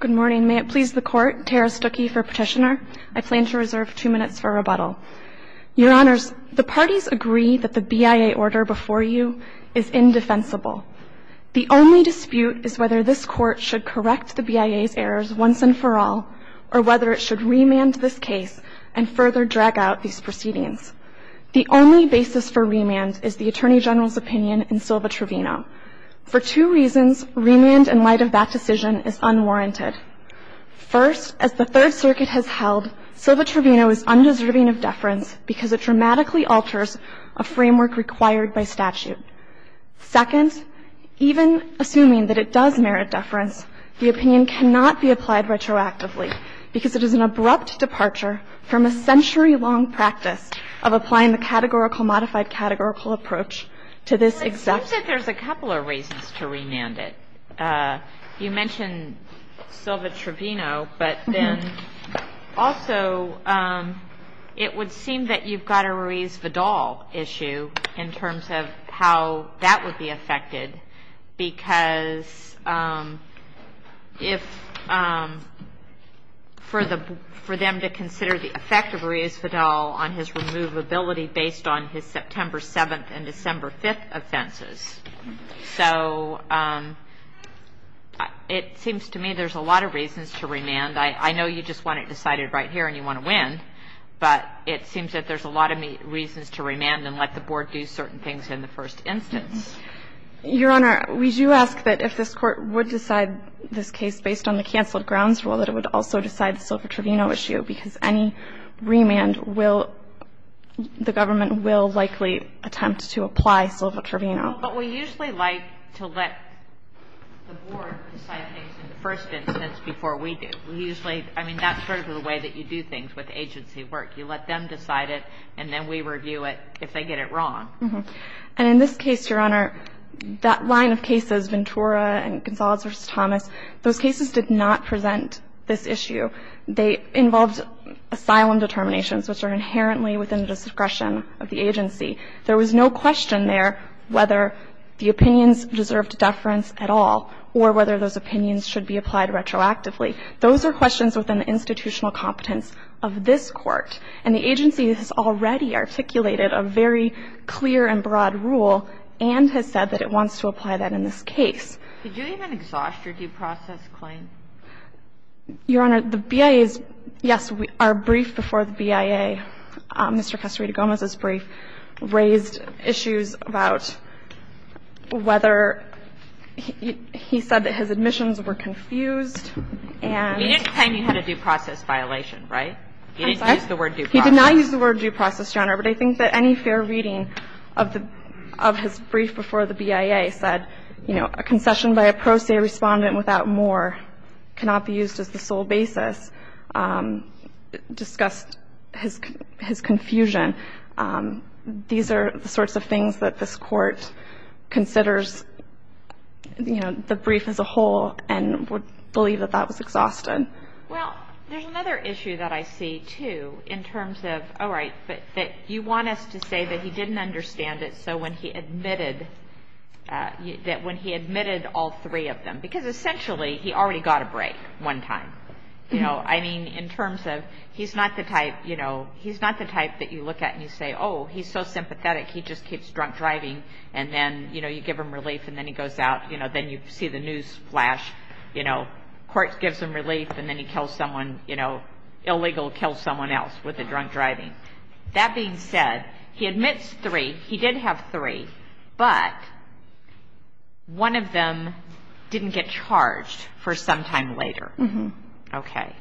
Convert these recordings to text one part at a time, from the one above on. Good morning. May it please the Court, Tara Stuckey for Petitioner. I plan to reserve two minutes for rebuttal. Your Honors, the parties agree that the BIA order before you is indefensible. The only dispute is whether this Court should correct the BIA's errors once and for all, or whether it should remand this case and further drag out these proceedings. The only basis for remand is the Attorney General's opinion in Silva-Trevino. For two reasons, remand in light of that decision is unwarranted. First, as the Third Circuit has held, Silva-Trevino is undeserving of deference because it dramatically alters a framework required by statute. Second, even assuming that it does merit deference, the opinion cannot be applied retroactively because it is an abrupt departure from a century-long practice of applying the categorical modified categorical approach to this exact case. It seems that there's a couple of reasons to remand it. You mentioned Silva-Trevino, but then also it would seem that you've got a Ruiz-Vidal issue in terms of how that would be affected because for them to consider the effect of Ruiz-Vidal on his removability based on his September 7th and December 5th offenses. So it seems to me there's a lot of reasons to remand. I know you just want it decided right here and you want to win, but it seems that there's a lot of reasons to remand and let the Board do certain things in the first instance. Your Honor, we do ask that if this Court would decide this case based on the canceled grounds rule that it would also decide the Silva-Trevino issue because any remand will the government will likely attempt to apply Silva-Trevino. But we usually like to let the Board decide things in the first instance before we do. We usually, I mean, that's sort of the way that you do things with agency work. You let them decide it and then we review it if they get it wrong. And in this case, Your Honor, that line of cases, Ventura and Gonzalez v. Thomas, those cases did not present this issue. They involved asylum determinations, which are inherently within the discretion of the agency. There was no question there whether the opinions deserved deference at all or whether those opinions should be applied retroactively. Those are questions within the institutional competence of this Court. And the agency has already articulated a very clear and broad rule and has said that it wants to apply that in this case. Did you even exhaust your due process claim? Your Honor, the BIA's, yes, our brief before the BIA, Mr. Casarito-Gomez's brief, raised issues about whether he said that his admissions were confused and he didn't claim he had a due process violation, right? He didn't use the word due process. He did not use the word due process, Your Honor. But I think that any fair reading of the of his brief before the BIA said, you know, a concession by a pro se respondent without more cannot be used as the sole basis discussed his confusion. These are the sorts of things that this Court considers, you know, the brief as a whole and would believe that that was exhausted. Well, there's another issue that I see, too, in terms of, all right, that you want us to say that he didn't understand it so when he admitted, that when he admitted all three of them, because essentially he already got a break one time, you know. I mean, in terms of he's not the type, you know, he's not the type that you look at and you say, oh, he's so sympathetic, he just keeps drunk driving, and then, you know, you give him relief and then he goes out, you know, then you see the news flash, you know, court gives him relief and then he kills someone, you know, illegal kills someone else with the drunk driving. That being said, he admits three, he did have three, but one of them didn't get charged for some time later. Okay.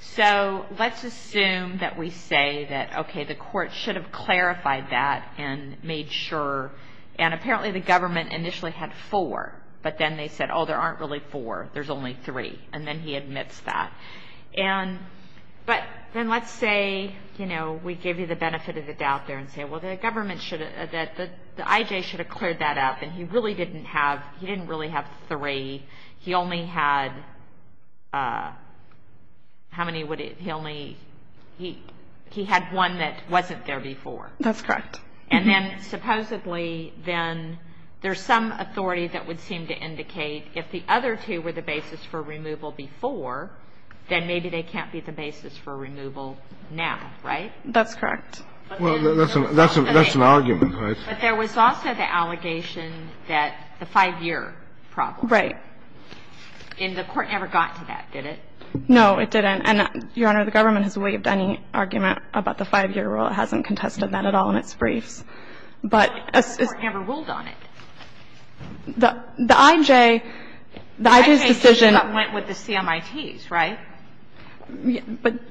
So let's assume that we say that, okay, the court should have clarified that and made sure, and apparently the government initially had four, but then they said, oh, there aren't really four, there's only three, and then he admits that. But then let's say, you know, we give you the benefit of the doubt there and say, well, the government should have, the IJ should have cleared that up and he really didn't have, he didn't really have three, he only had, how many would he, he only, he had one that wasn't there before. That's correct. And then supposedly then there's some authority that would seem to indicate if the other two were the basis for removal before, then maybe they can't be the basis for removal now, right? That's correct. Well, that's an argument, right? But there was also the allegation that the five-year problem. Right. And the court never got to that, did it? No, it didn't. And, Your Honor, the government has waived any argument about the five-year rule. It hasn't contested that at all in its briefs. But as the court never ruled on it. The IJ, the IJ's decision. The IJ went with the CMITs, right?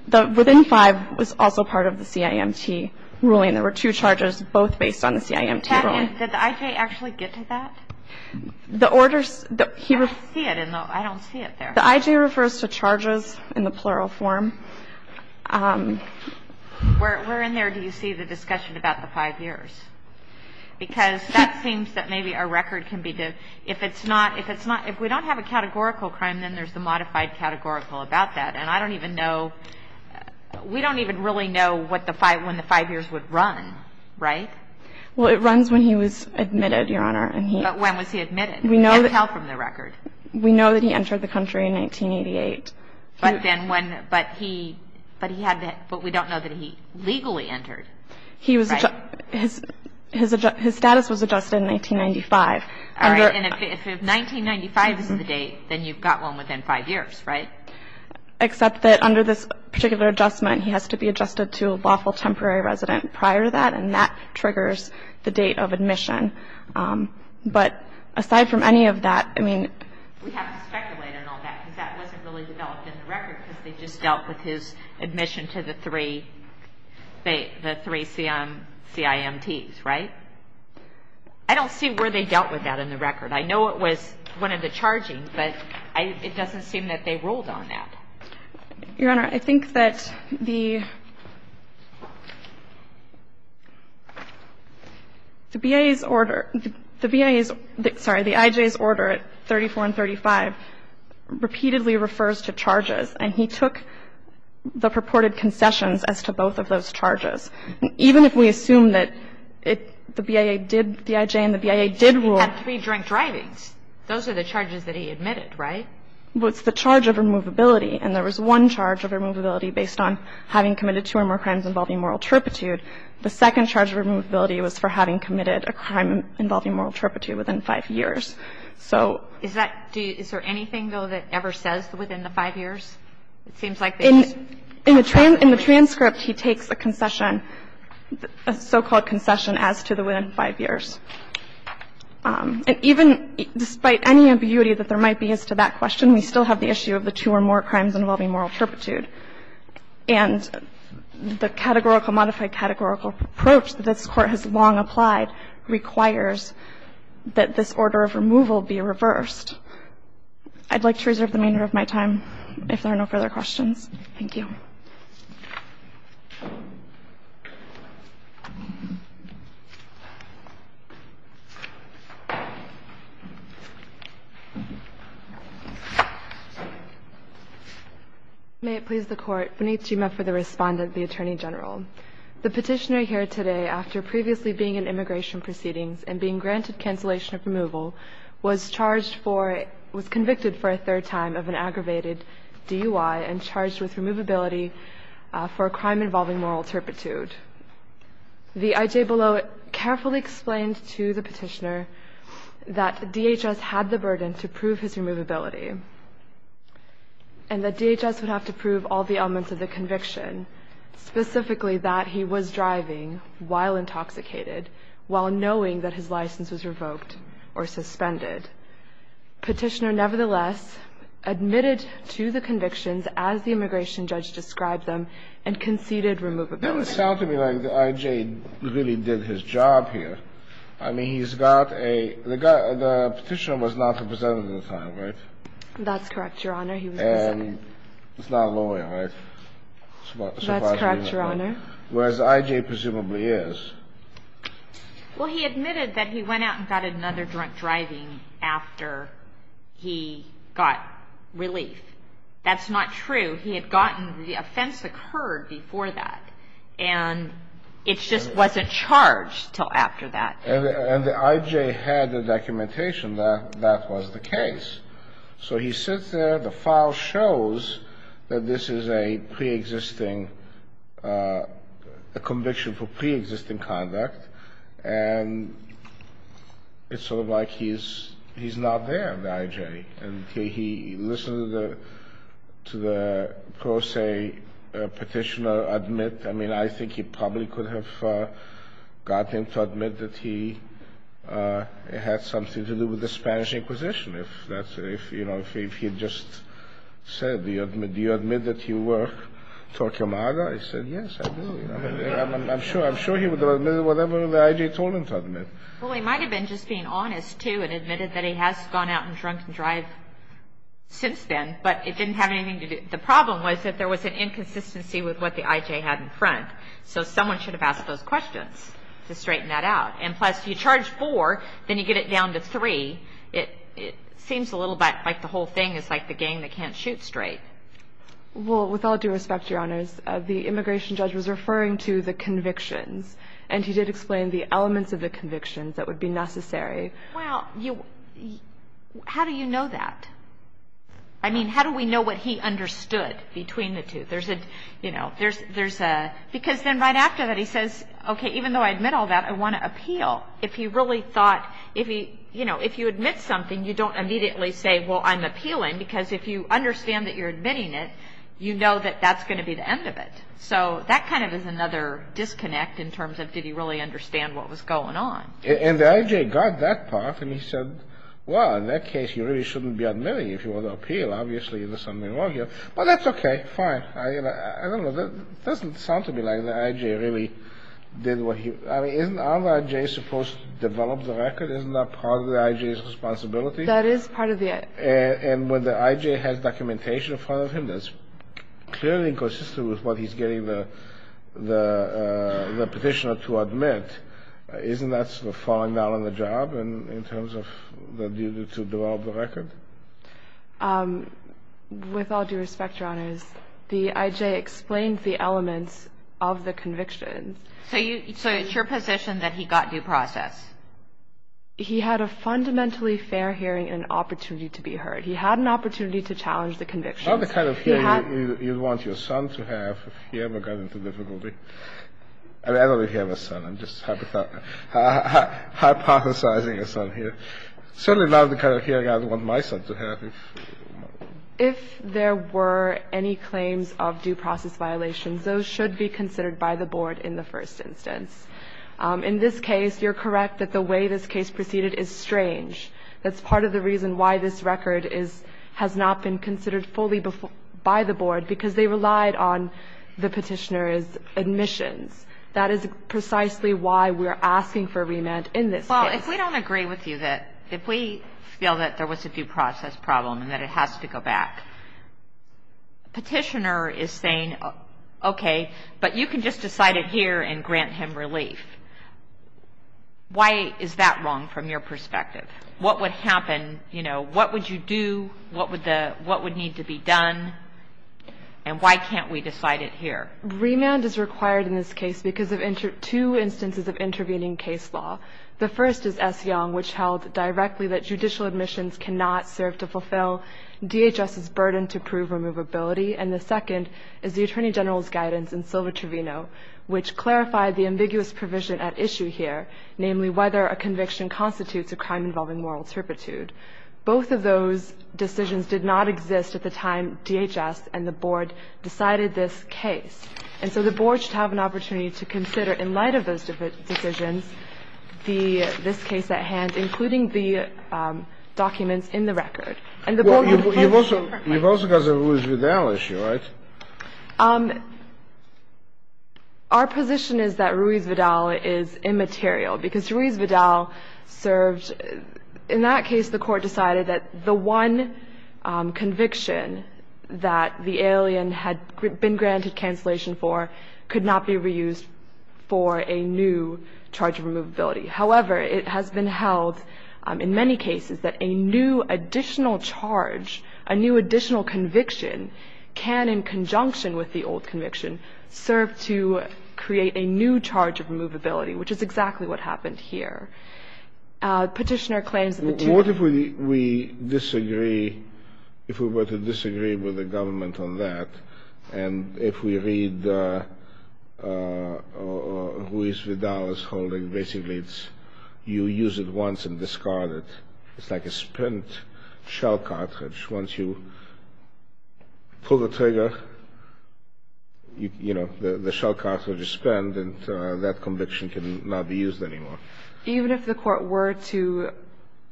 But within five was also part of the CIMT ruling. There were two charges both based on the CIMT ruling. Did the IJ actually get to that? The orders, he. I don't see it in the, I don't see it there. The IJ refers to charges in the plural form. Where in there do you see the discussion about the five years? Because that seems that maybe a record can be, if it's not, if it's not, if we don't have a categorical crime, then there's the modified categorical about that. And I don't even know, we don't even really know when the five years would run, right? Well, it runs when he was admitted, Your Honor. But when was he admitted? We never tell from the record. We know that he entered the country in 1988. But then when, but he, but he had, but we don't know that he legally entered. He was, his status was adjusted in 1995. All right. And if 1995 is the date, then you've got one within five years, right? Except that under this particular adjustment, he has to be adjusted to a lawful temporary resident prior to that, and that triggers the date of admission. But aside from any of that, I mean. We have to speculate on all that, because that wasn't really developed in the record, because they just dealt with his admission to the three, the three CIMTs, right? I don't see where they dealt with that in the record. I know it was one of the chargings, but it doesn't seem that they ruled on that. Your Honor, I think that the, the BIA's order, the BIA's, sorry, the IJ's order at 34 and 35 repeatedly refers to charges. And he took the purported concessions as to both of those charges. And even if we assume that it, the BIA did, the IJ and the BIA did rule. He had three joint drivings. Those are the charges that he admitted, right? Well, it's the charge of removability, and there was one charge of removability based on having committed two or more crimes involving moral turpitude. The second charge of removability was for having committed a crime involving moral turpitude within five years. So. Is that, do you, is there anything, though, that ever says within the five years? It seems like there is. In the transcript, he takes a concession, a so-called concession as to the within five years. And even despite any ambiguity that there might be as to that question, we still have the issue of the two or more crimes involving moral turpitude. And the categorical, modified categorical approach that this Court has long applied requires that this order of removal be reversed. I'd like to reserve the remainder of my time if there are no further questions. Thank you. May it please the Court. Konnichiwa for the Respondent, the Attorney General. The Petitioner here today, after previously being in immigration proceedings and being granted cancellation of removal, was charged for, was convicted for a third time of an aggravated DUI and charged with removability for a crime involving moral turpitude. The IJBELO carefully explained to the Petitioner that DHS had the burden to prove his removability and that DHS would have to prove all the elements of the conviction, specifically that he was driving while intoxicated, while knowing that his license was revoked or suspended. Petitioner, nevertheless, admitted to the convictions as the immigration judge described them and conceded removability. It doesn't sound to me like the IJ really did his job here. I mean, he's got a, the Petitioner was not represented at the time, right? That's correct, Your Honor. He was present. And he's not a lawyer, right? That's correct, Your Honor. Whereas the IJ presumably is. Well, he admitted that he went out and got another drunk driving after he got relief. That's not true. He had gotten, the offense occurred before that. And it just wasn't charged until after that. And the IJ had the documentation that that was the case. So he sits there. The file shows that this is a preexisting, a conviction for preexisting conduct. And it's sort of like he's not there, the IJ. And he listened to the pro se Petitioner admit. I mean, I think he probably could have gotten him to admit that he had something to do with the Spanish Inquisition, if that's, you know, if he had just said, do you admit that you were Torquemada? He said, yes, I do. I'm sure he would have admitted whatever the IJ told him to admit. Well, he might have been just being honest, too, and admitted that he has gone out and drunk drive since then. But it didn't have anything to do, the problem was that there was an inconsistency with what the IJ had in front. So someone should have asked those questions to straighten that out. And plus, you charge four, then you get it down to three. It seems a little bit like the whole thing is like the gang that can't shoot straight. Well, with all due respect, Your Honors, the immigration judge was referring to the convictions. And he did explain the elements of the convictions that would be necessary. Well, how do you know that? I mean, how do we know what he understood between the two? Because then right after that, he says, okay, even though I admit all that, I want to appeal. If you really thought, you know, if you admit something, you don't immediately say, well, I'm appealing, because if you understand that you're admitting it, you know that that's going to be the end of it. So that kind of is another disconnect in terms of did he really understand what was going on. And the IJ got that part, and he said, well, in that case, you really shouldn't be admitting if you want to appeal. Obviously, there's something wrong here. But that's okay. Fine. I don't know. It doesn't sound to me like the IJ really did what he – I mean, isn't the IJ supposed to develop the record? Isn't that part of the IJ's responsibility? That is part of the – And when the IJ has documentation in front of him that's clearly inconsistent with what he's getting the petitioner to admit, isn't that sort of falling down on the job in terms of the duty to develop the record? With all due respect, Your Honors, the IJ explained the elements of the convictions. So it's your position that he got due process? He had a fundamentally fair hearing and an opportunity to be heard. He had an opportunity to challenge the convictions. Not the kind of hearing you'd want your son to have if he ever got into difficulty. I mean, I don't really have a son. I'm just hypothesizing a son here. Certainly not the kind of hearing I'd want my son to have. If there were any claims of due process violations, those should be considered by the board in the first instance. In this case, you're correct that the way this case proceeded is strange. That's part of the reason why this record is – has not been considered fully by the board, because they relied on the petitioner's admissions. That is precisely why we are asking for remand in this case. Well, if we don't agree with you, that if we feel that there was a due process problem and that it has to go back, petitioner is saying, okay, but you can just decide it here and grant him relief. Why is that wrong from your perspective? What would happen, you know, what would you do, what would need to be done, and why can't we decide it here? Remand is required in this case because of two instances of intervening case law. The first is S. Young, which held directly that judicial admissions cannot serve to fulfill DHS's burden to prove removability. And the second is the Attorney General's guidance in Silva-Trevino, which clarified the ambiguous provision at issue here, namely whether a conviction constitutes a crime involving moral turpitude. Both of those decisions did not exist at the time DHS and the board decided this case. And so the board should have an opportunity to consider, in light of those decisions, the this case at hand, including the documents in the record. And the board would approach it differently. You've also got the Ruiz-Vidal issue, right? Our position is that Ruiz-Vidal is immaterial because Ruiz-Vidal served. In that case, the Court decided that the one conviction that the alien had been granted cancellation for could not be reused for a new charge of removability. However, it has been held in many cases that a new additional charge, a new additional conviction, can, in conjunction with the old conviction, serve to create a new charge of removability, which is exactly what happened here. Petitioner claims that the two of them ---- What if we disagree, if we were to disagree with the government on that, and if we read Ruiz-Vidal's holding, basically it's you use it once and discard it. It's like a spent shell cartridge. Once you pull the trigger, you know, the shell cartridge is spent, and that conviction cannot be used anymore. Even if the Court were to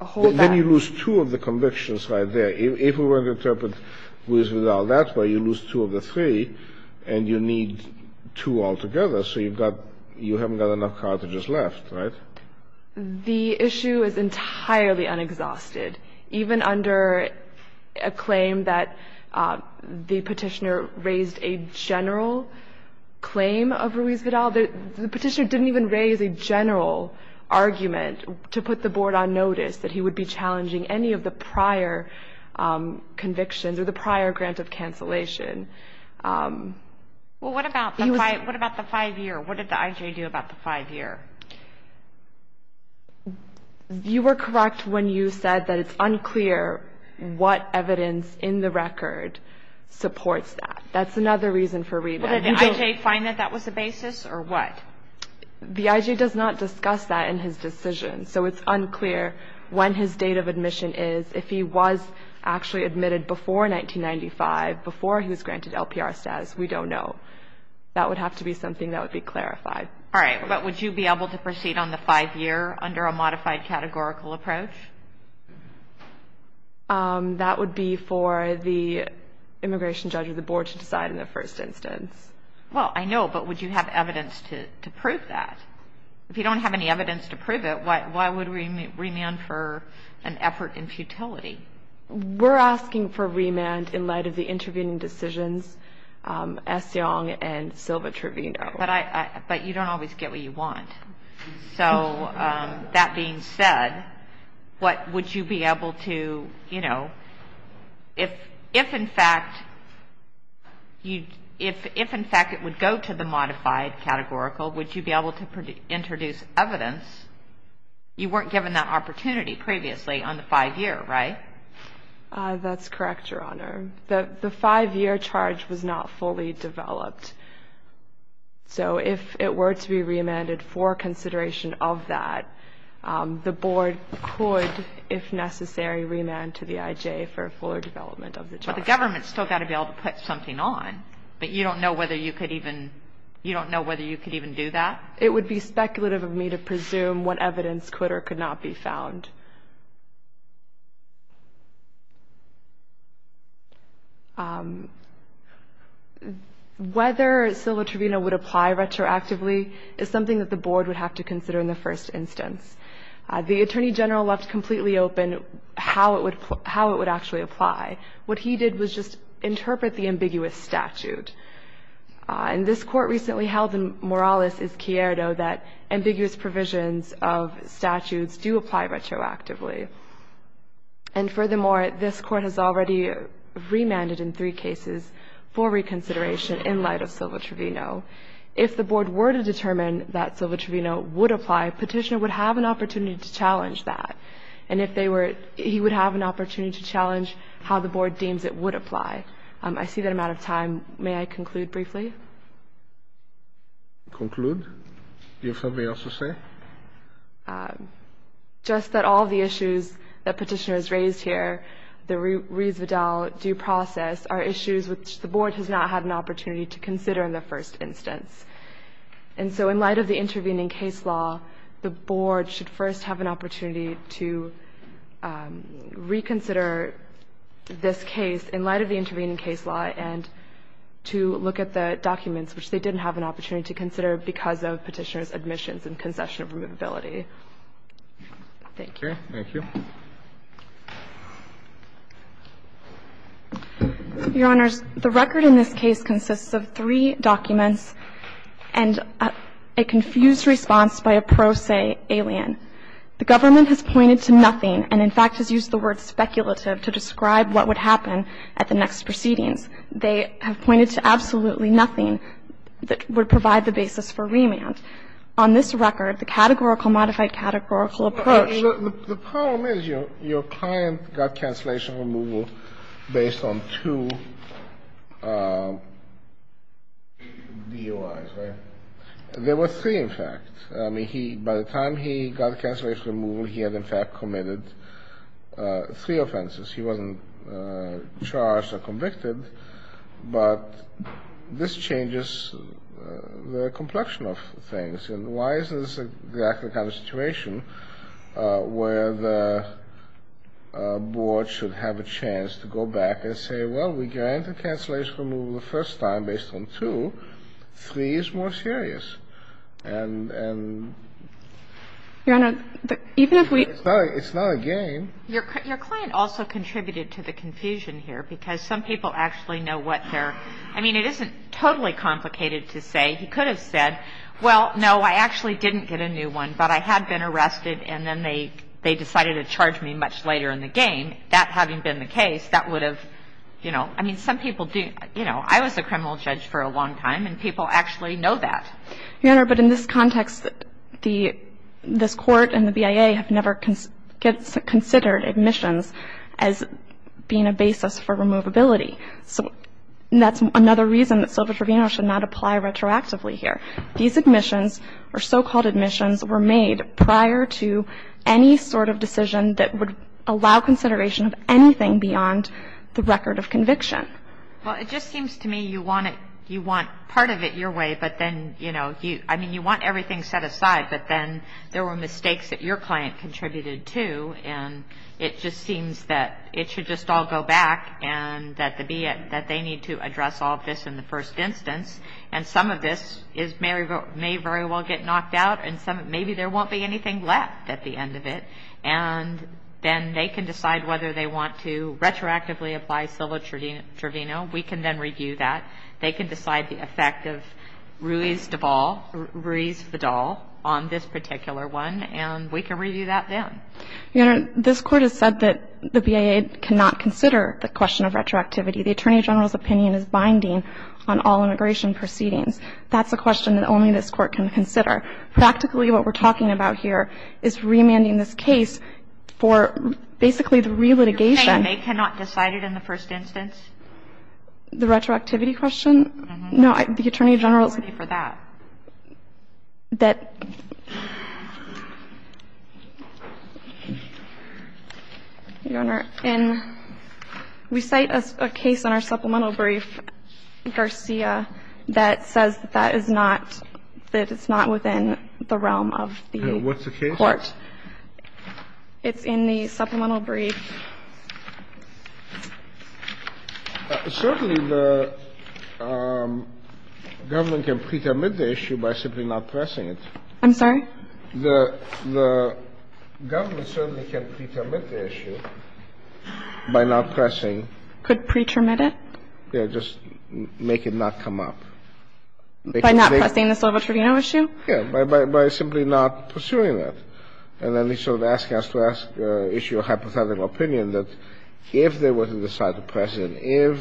hold that ---- Then you lose two of the convictions right there. If we were to interpret Ruiz-Vidal that way, you lose two of the three, and you need two altogether. So you've got ---- you haven't got enough cartridges left, right? The issue is entirely unexhausted. Even under a claim that the Petitioner raised a general claim of Ruiz-Vidal, the Petitioner didn't even raise a general argument to put the Board on notice that he would be challenging any of the prior convictions or the prior grant of cancellation. Well, what about the five-year? What did the IJ do about the five-year? You were correct when you said that it's unclear what evidence in the record supports that. That's another reason for remand. Did the IJ find that that was the basis, or what? The IJ does not discuss that in his decision. So it's unclear when his date of admission is. If he was actually admitted before 1995, before he was granted LPR status, we don't know. That would have to be something that would be clarified. All right. But would you be able to proceed on the five-year under a modified categorical approach? That would be for the immigration judge or the Board to decide in the first instance. Well, I know, but would you have evidence to prove that? If you don't have any evidence to prove it, why would we remand for an effort in futility? We're asking for remand in light of the intervening decisions, Essiong and Silva-Trevino. But you don't always get what you want. So that being said, would you be able to, you know, if in fact it would go to the modified categorical, would you be able to introduce evidence? You weren't given that opportunity previously on the five-year, right? That's correct, Your Honor. The five-year charge was not fully developed. So if it were to be remanded for consideration of that, the Board could, if necessary, remand to the IJ for a fuller development of the charge. But the government's still got to be able to put something on. But you don't know whether you could even do that? It would be speculative of me to presume what evidence could or could not be found. Whether Silva-Trevino would apply retroactively is something that the Board would have to consider in the first instance. The Attorney General left completely open how it would actually apply. What he did was just interpret the ambiguous statute. And this Court recently held in Morales v. Cierdo that ambiguous provisions of statutes do apply retroactively. And furthermore, this Court has already remanded in three cases for reconsideration in light of Silva-Trevino. If the Board were to determine that Silva-Trevino would apply, Petitioner would have an opportunity to challenge that. And if they were, he would have an opportunity to challenge how the Board deems it would apply. I see that I'm out of time. May I conclude briefly? Conclude? Do you have something else to say? Just that all the issues that Petitioner has raised here, the Rees-Vidal due process, are issues which the Board has not had an opportunity to consider in the first instance. And so in light of the intervening case law, the Board should first have an opportunity to reconsider this case in light of the intervening case law and to look at the documents which they didn't have an opportunity to consider because of Petitioner's admissions and concession of removability. Thank you. Thank you. Your Honors, the record in this case consists of three documents and a confused response by a pro se alien. The government has pointed to nothing and, in fact, has used the word speculative to describe what would happen at the next proceedings. They have pointed to absolutely nothing that would provide the basis for remand. On this record, the categorical modified categorical approach. The problem is your client got cancellation removal based on two DUIs, right? There were three, in fact. I mean, by the time he got cancellation removal, he had, in fact, committed three offenses. He wasn't charged or convicted. But this changes the complexion of things. And why is this exactly the kind of situation where the Board should have a chance to go back and say, well, we granted cancellation removal the first time based on two. Three is more serious. And, Your Honor, even if we. It's not a game. Your client also contributed to the confusion here because some people actually know what their. I mean, it isn't totally complicated to say he could have said, well, no, I actually didn't get a new one, but I had been arrested and then they they decided to charge me much later in the game. That having been the case, that would have, you know, I mean, some people do. You know, I was a criminal judge for a long time and people actually know that. Your Honor, but in this context, the this court and the BIA have never considered admissions as being a basis for removability. So that's another reason that Silva-Trevino should not apply retroactively here. These admissions or so-called admissions were made prior to any sort of decision that would allow consideration of anything beyond the record of conviction. Well, it just seems to me you want it. You want part of it your way. But then, you know, I mean, you want everything set aside. But then there were mistakes that your client contributed to. And it just seems that it should just all go back and that the BIA, that they need to address all of this in the first instance. And some of this may very well get knocked out. And maybe there won't be anything left at the end of it. And then they can decide whether they want to retroactively apply Silva-Trevino. We can then review that. They can decide the effect of Ruiz-Fedal on this particular one. And we can review that then. Your Honor, this Court has said that the BIA cannot consider the question of retroactivity. The Attorney General's opinion is binding on all immigration proceedings. That's a question that only this Court can consider. Practically, what we're talking about here is remanding this case for basically the re-litigation. You're saying they cannot decide it in the first instance? The retroactivity question? Mm-hmm. No, the Attorney General's opinion. How worthy for that? That – Your Honor, in – we cite a case in our supplemental brief, Garcia, that says that that is not – that it's not within the realm of the Court. What's the case? It's in the supplemental brief. Certainly, the government can pre-termit the issue by simply not pressing it. I'm sorry? The government certainly can pre-termit the issue by not pressing. Could pre-termit it? Yeah, just make it not come up. By not pressing the civil tribunal issue? Yeah, by simply not pursuing it. And then they sort of ask us to issue a hypothetical opinion that if there was a decisive precedent, if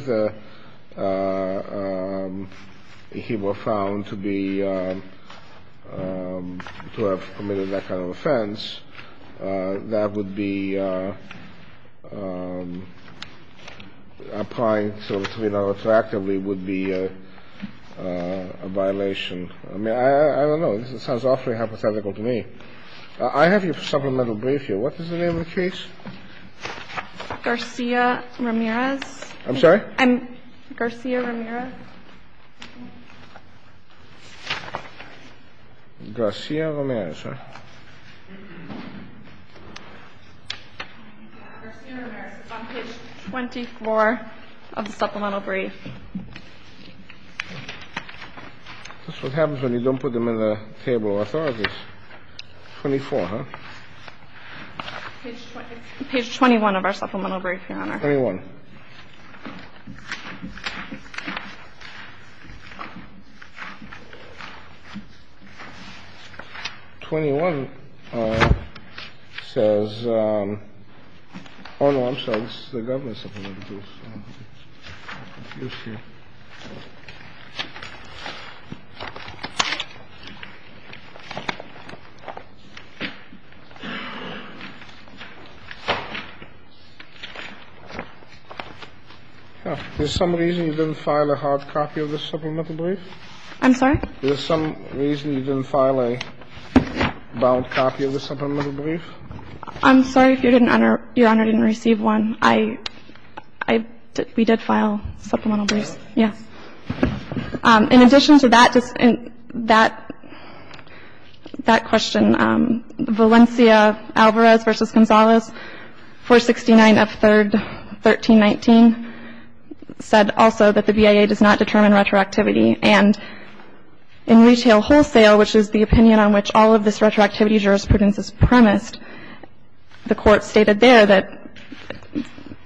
he were found to be – to have committed that kind of offense, that would be applying to the tribunal retroactively would be a violation. I mean, I don't know. This sounds awfully hypothetical to me. I have your supplemental brief here. What is the name of the case? Garcia-Ramirez. I'm sorry? Garcia-Ramirez. Garcia-Ramirez, right? Garcia-Ramirez is on page 24 of the supplemental brief. That's what happens when you don't put them in the table of authorities. 24, huh? Page 21 of our supplemental brief, Your Honor. 21. 21 says – oh, no, I'm sorry. This is the Governor's supplemental brief. Is there some reason you didn't file a hard copy of this supplemental brief? I'm sorry? Is there some reason you didn't file a bound copy of the supplemental brief? I'm sorry if Your Honor didn't receive one. We did file supplemental briefs. Yes. In addition to that question, Valencia Alvarez v. Gonzalez, 469 F. 3rd, 1319, said also that the BIA does not determine retroactivity. And in Retail Wholesale, which is the opinion on which all of this retroactivity jurisprudence is premised, the Court stated there that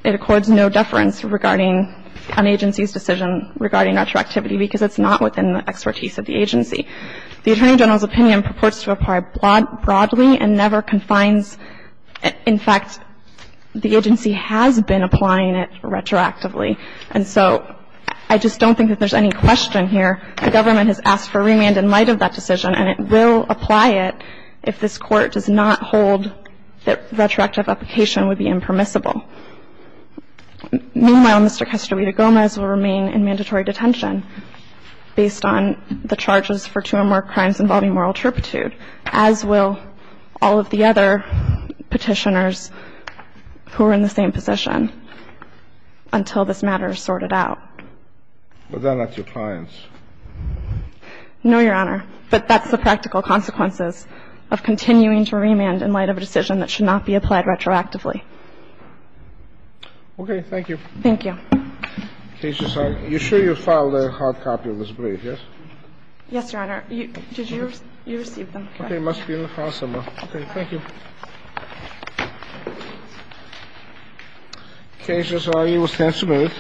it accords no deference regarding an agency's decision regarding retroactivity because it's not within the expertise of the agency. The Attorney General's opinion purports to apply broadly and never confines. In fact, the agency has been applying it retroactively. And so I just don't think that there's any question here. The government has asked for remand in light of that decision, and it will apply it if this Court does not hold that retroactive application would be impermissible. Meanwhile, Mr. Castor Vida-Gomez will remain in mandatory detention based on the charges for two or more crimes involving moral turpitude, as will all of the other petitioners who are in the same position, until this matter is sorted out. But they're not your clients. No, Your Honor. But that's the practical consequences of continuing to remand in light of a decision that should not be applied retroactively. Okay. Thank you. Thank you. You sure you filed a hard copy of this brief, yes? Yes, Your Honor. Did you receive them? Okay. Thank you. Thank you. Thank you. Thank you.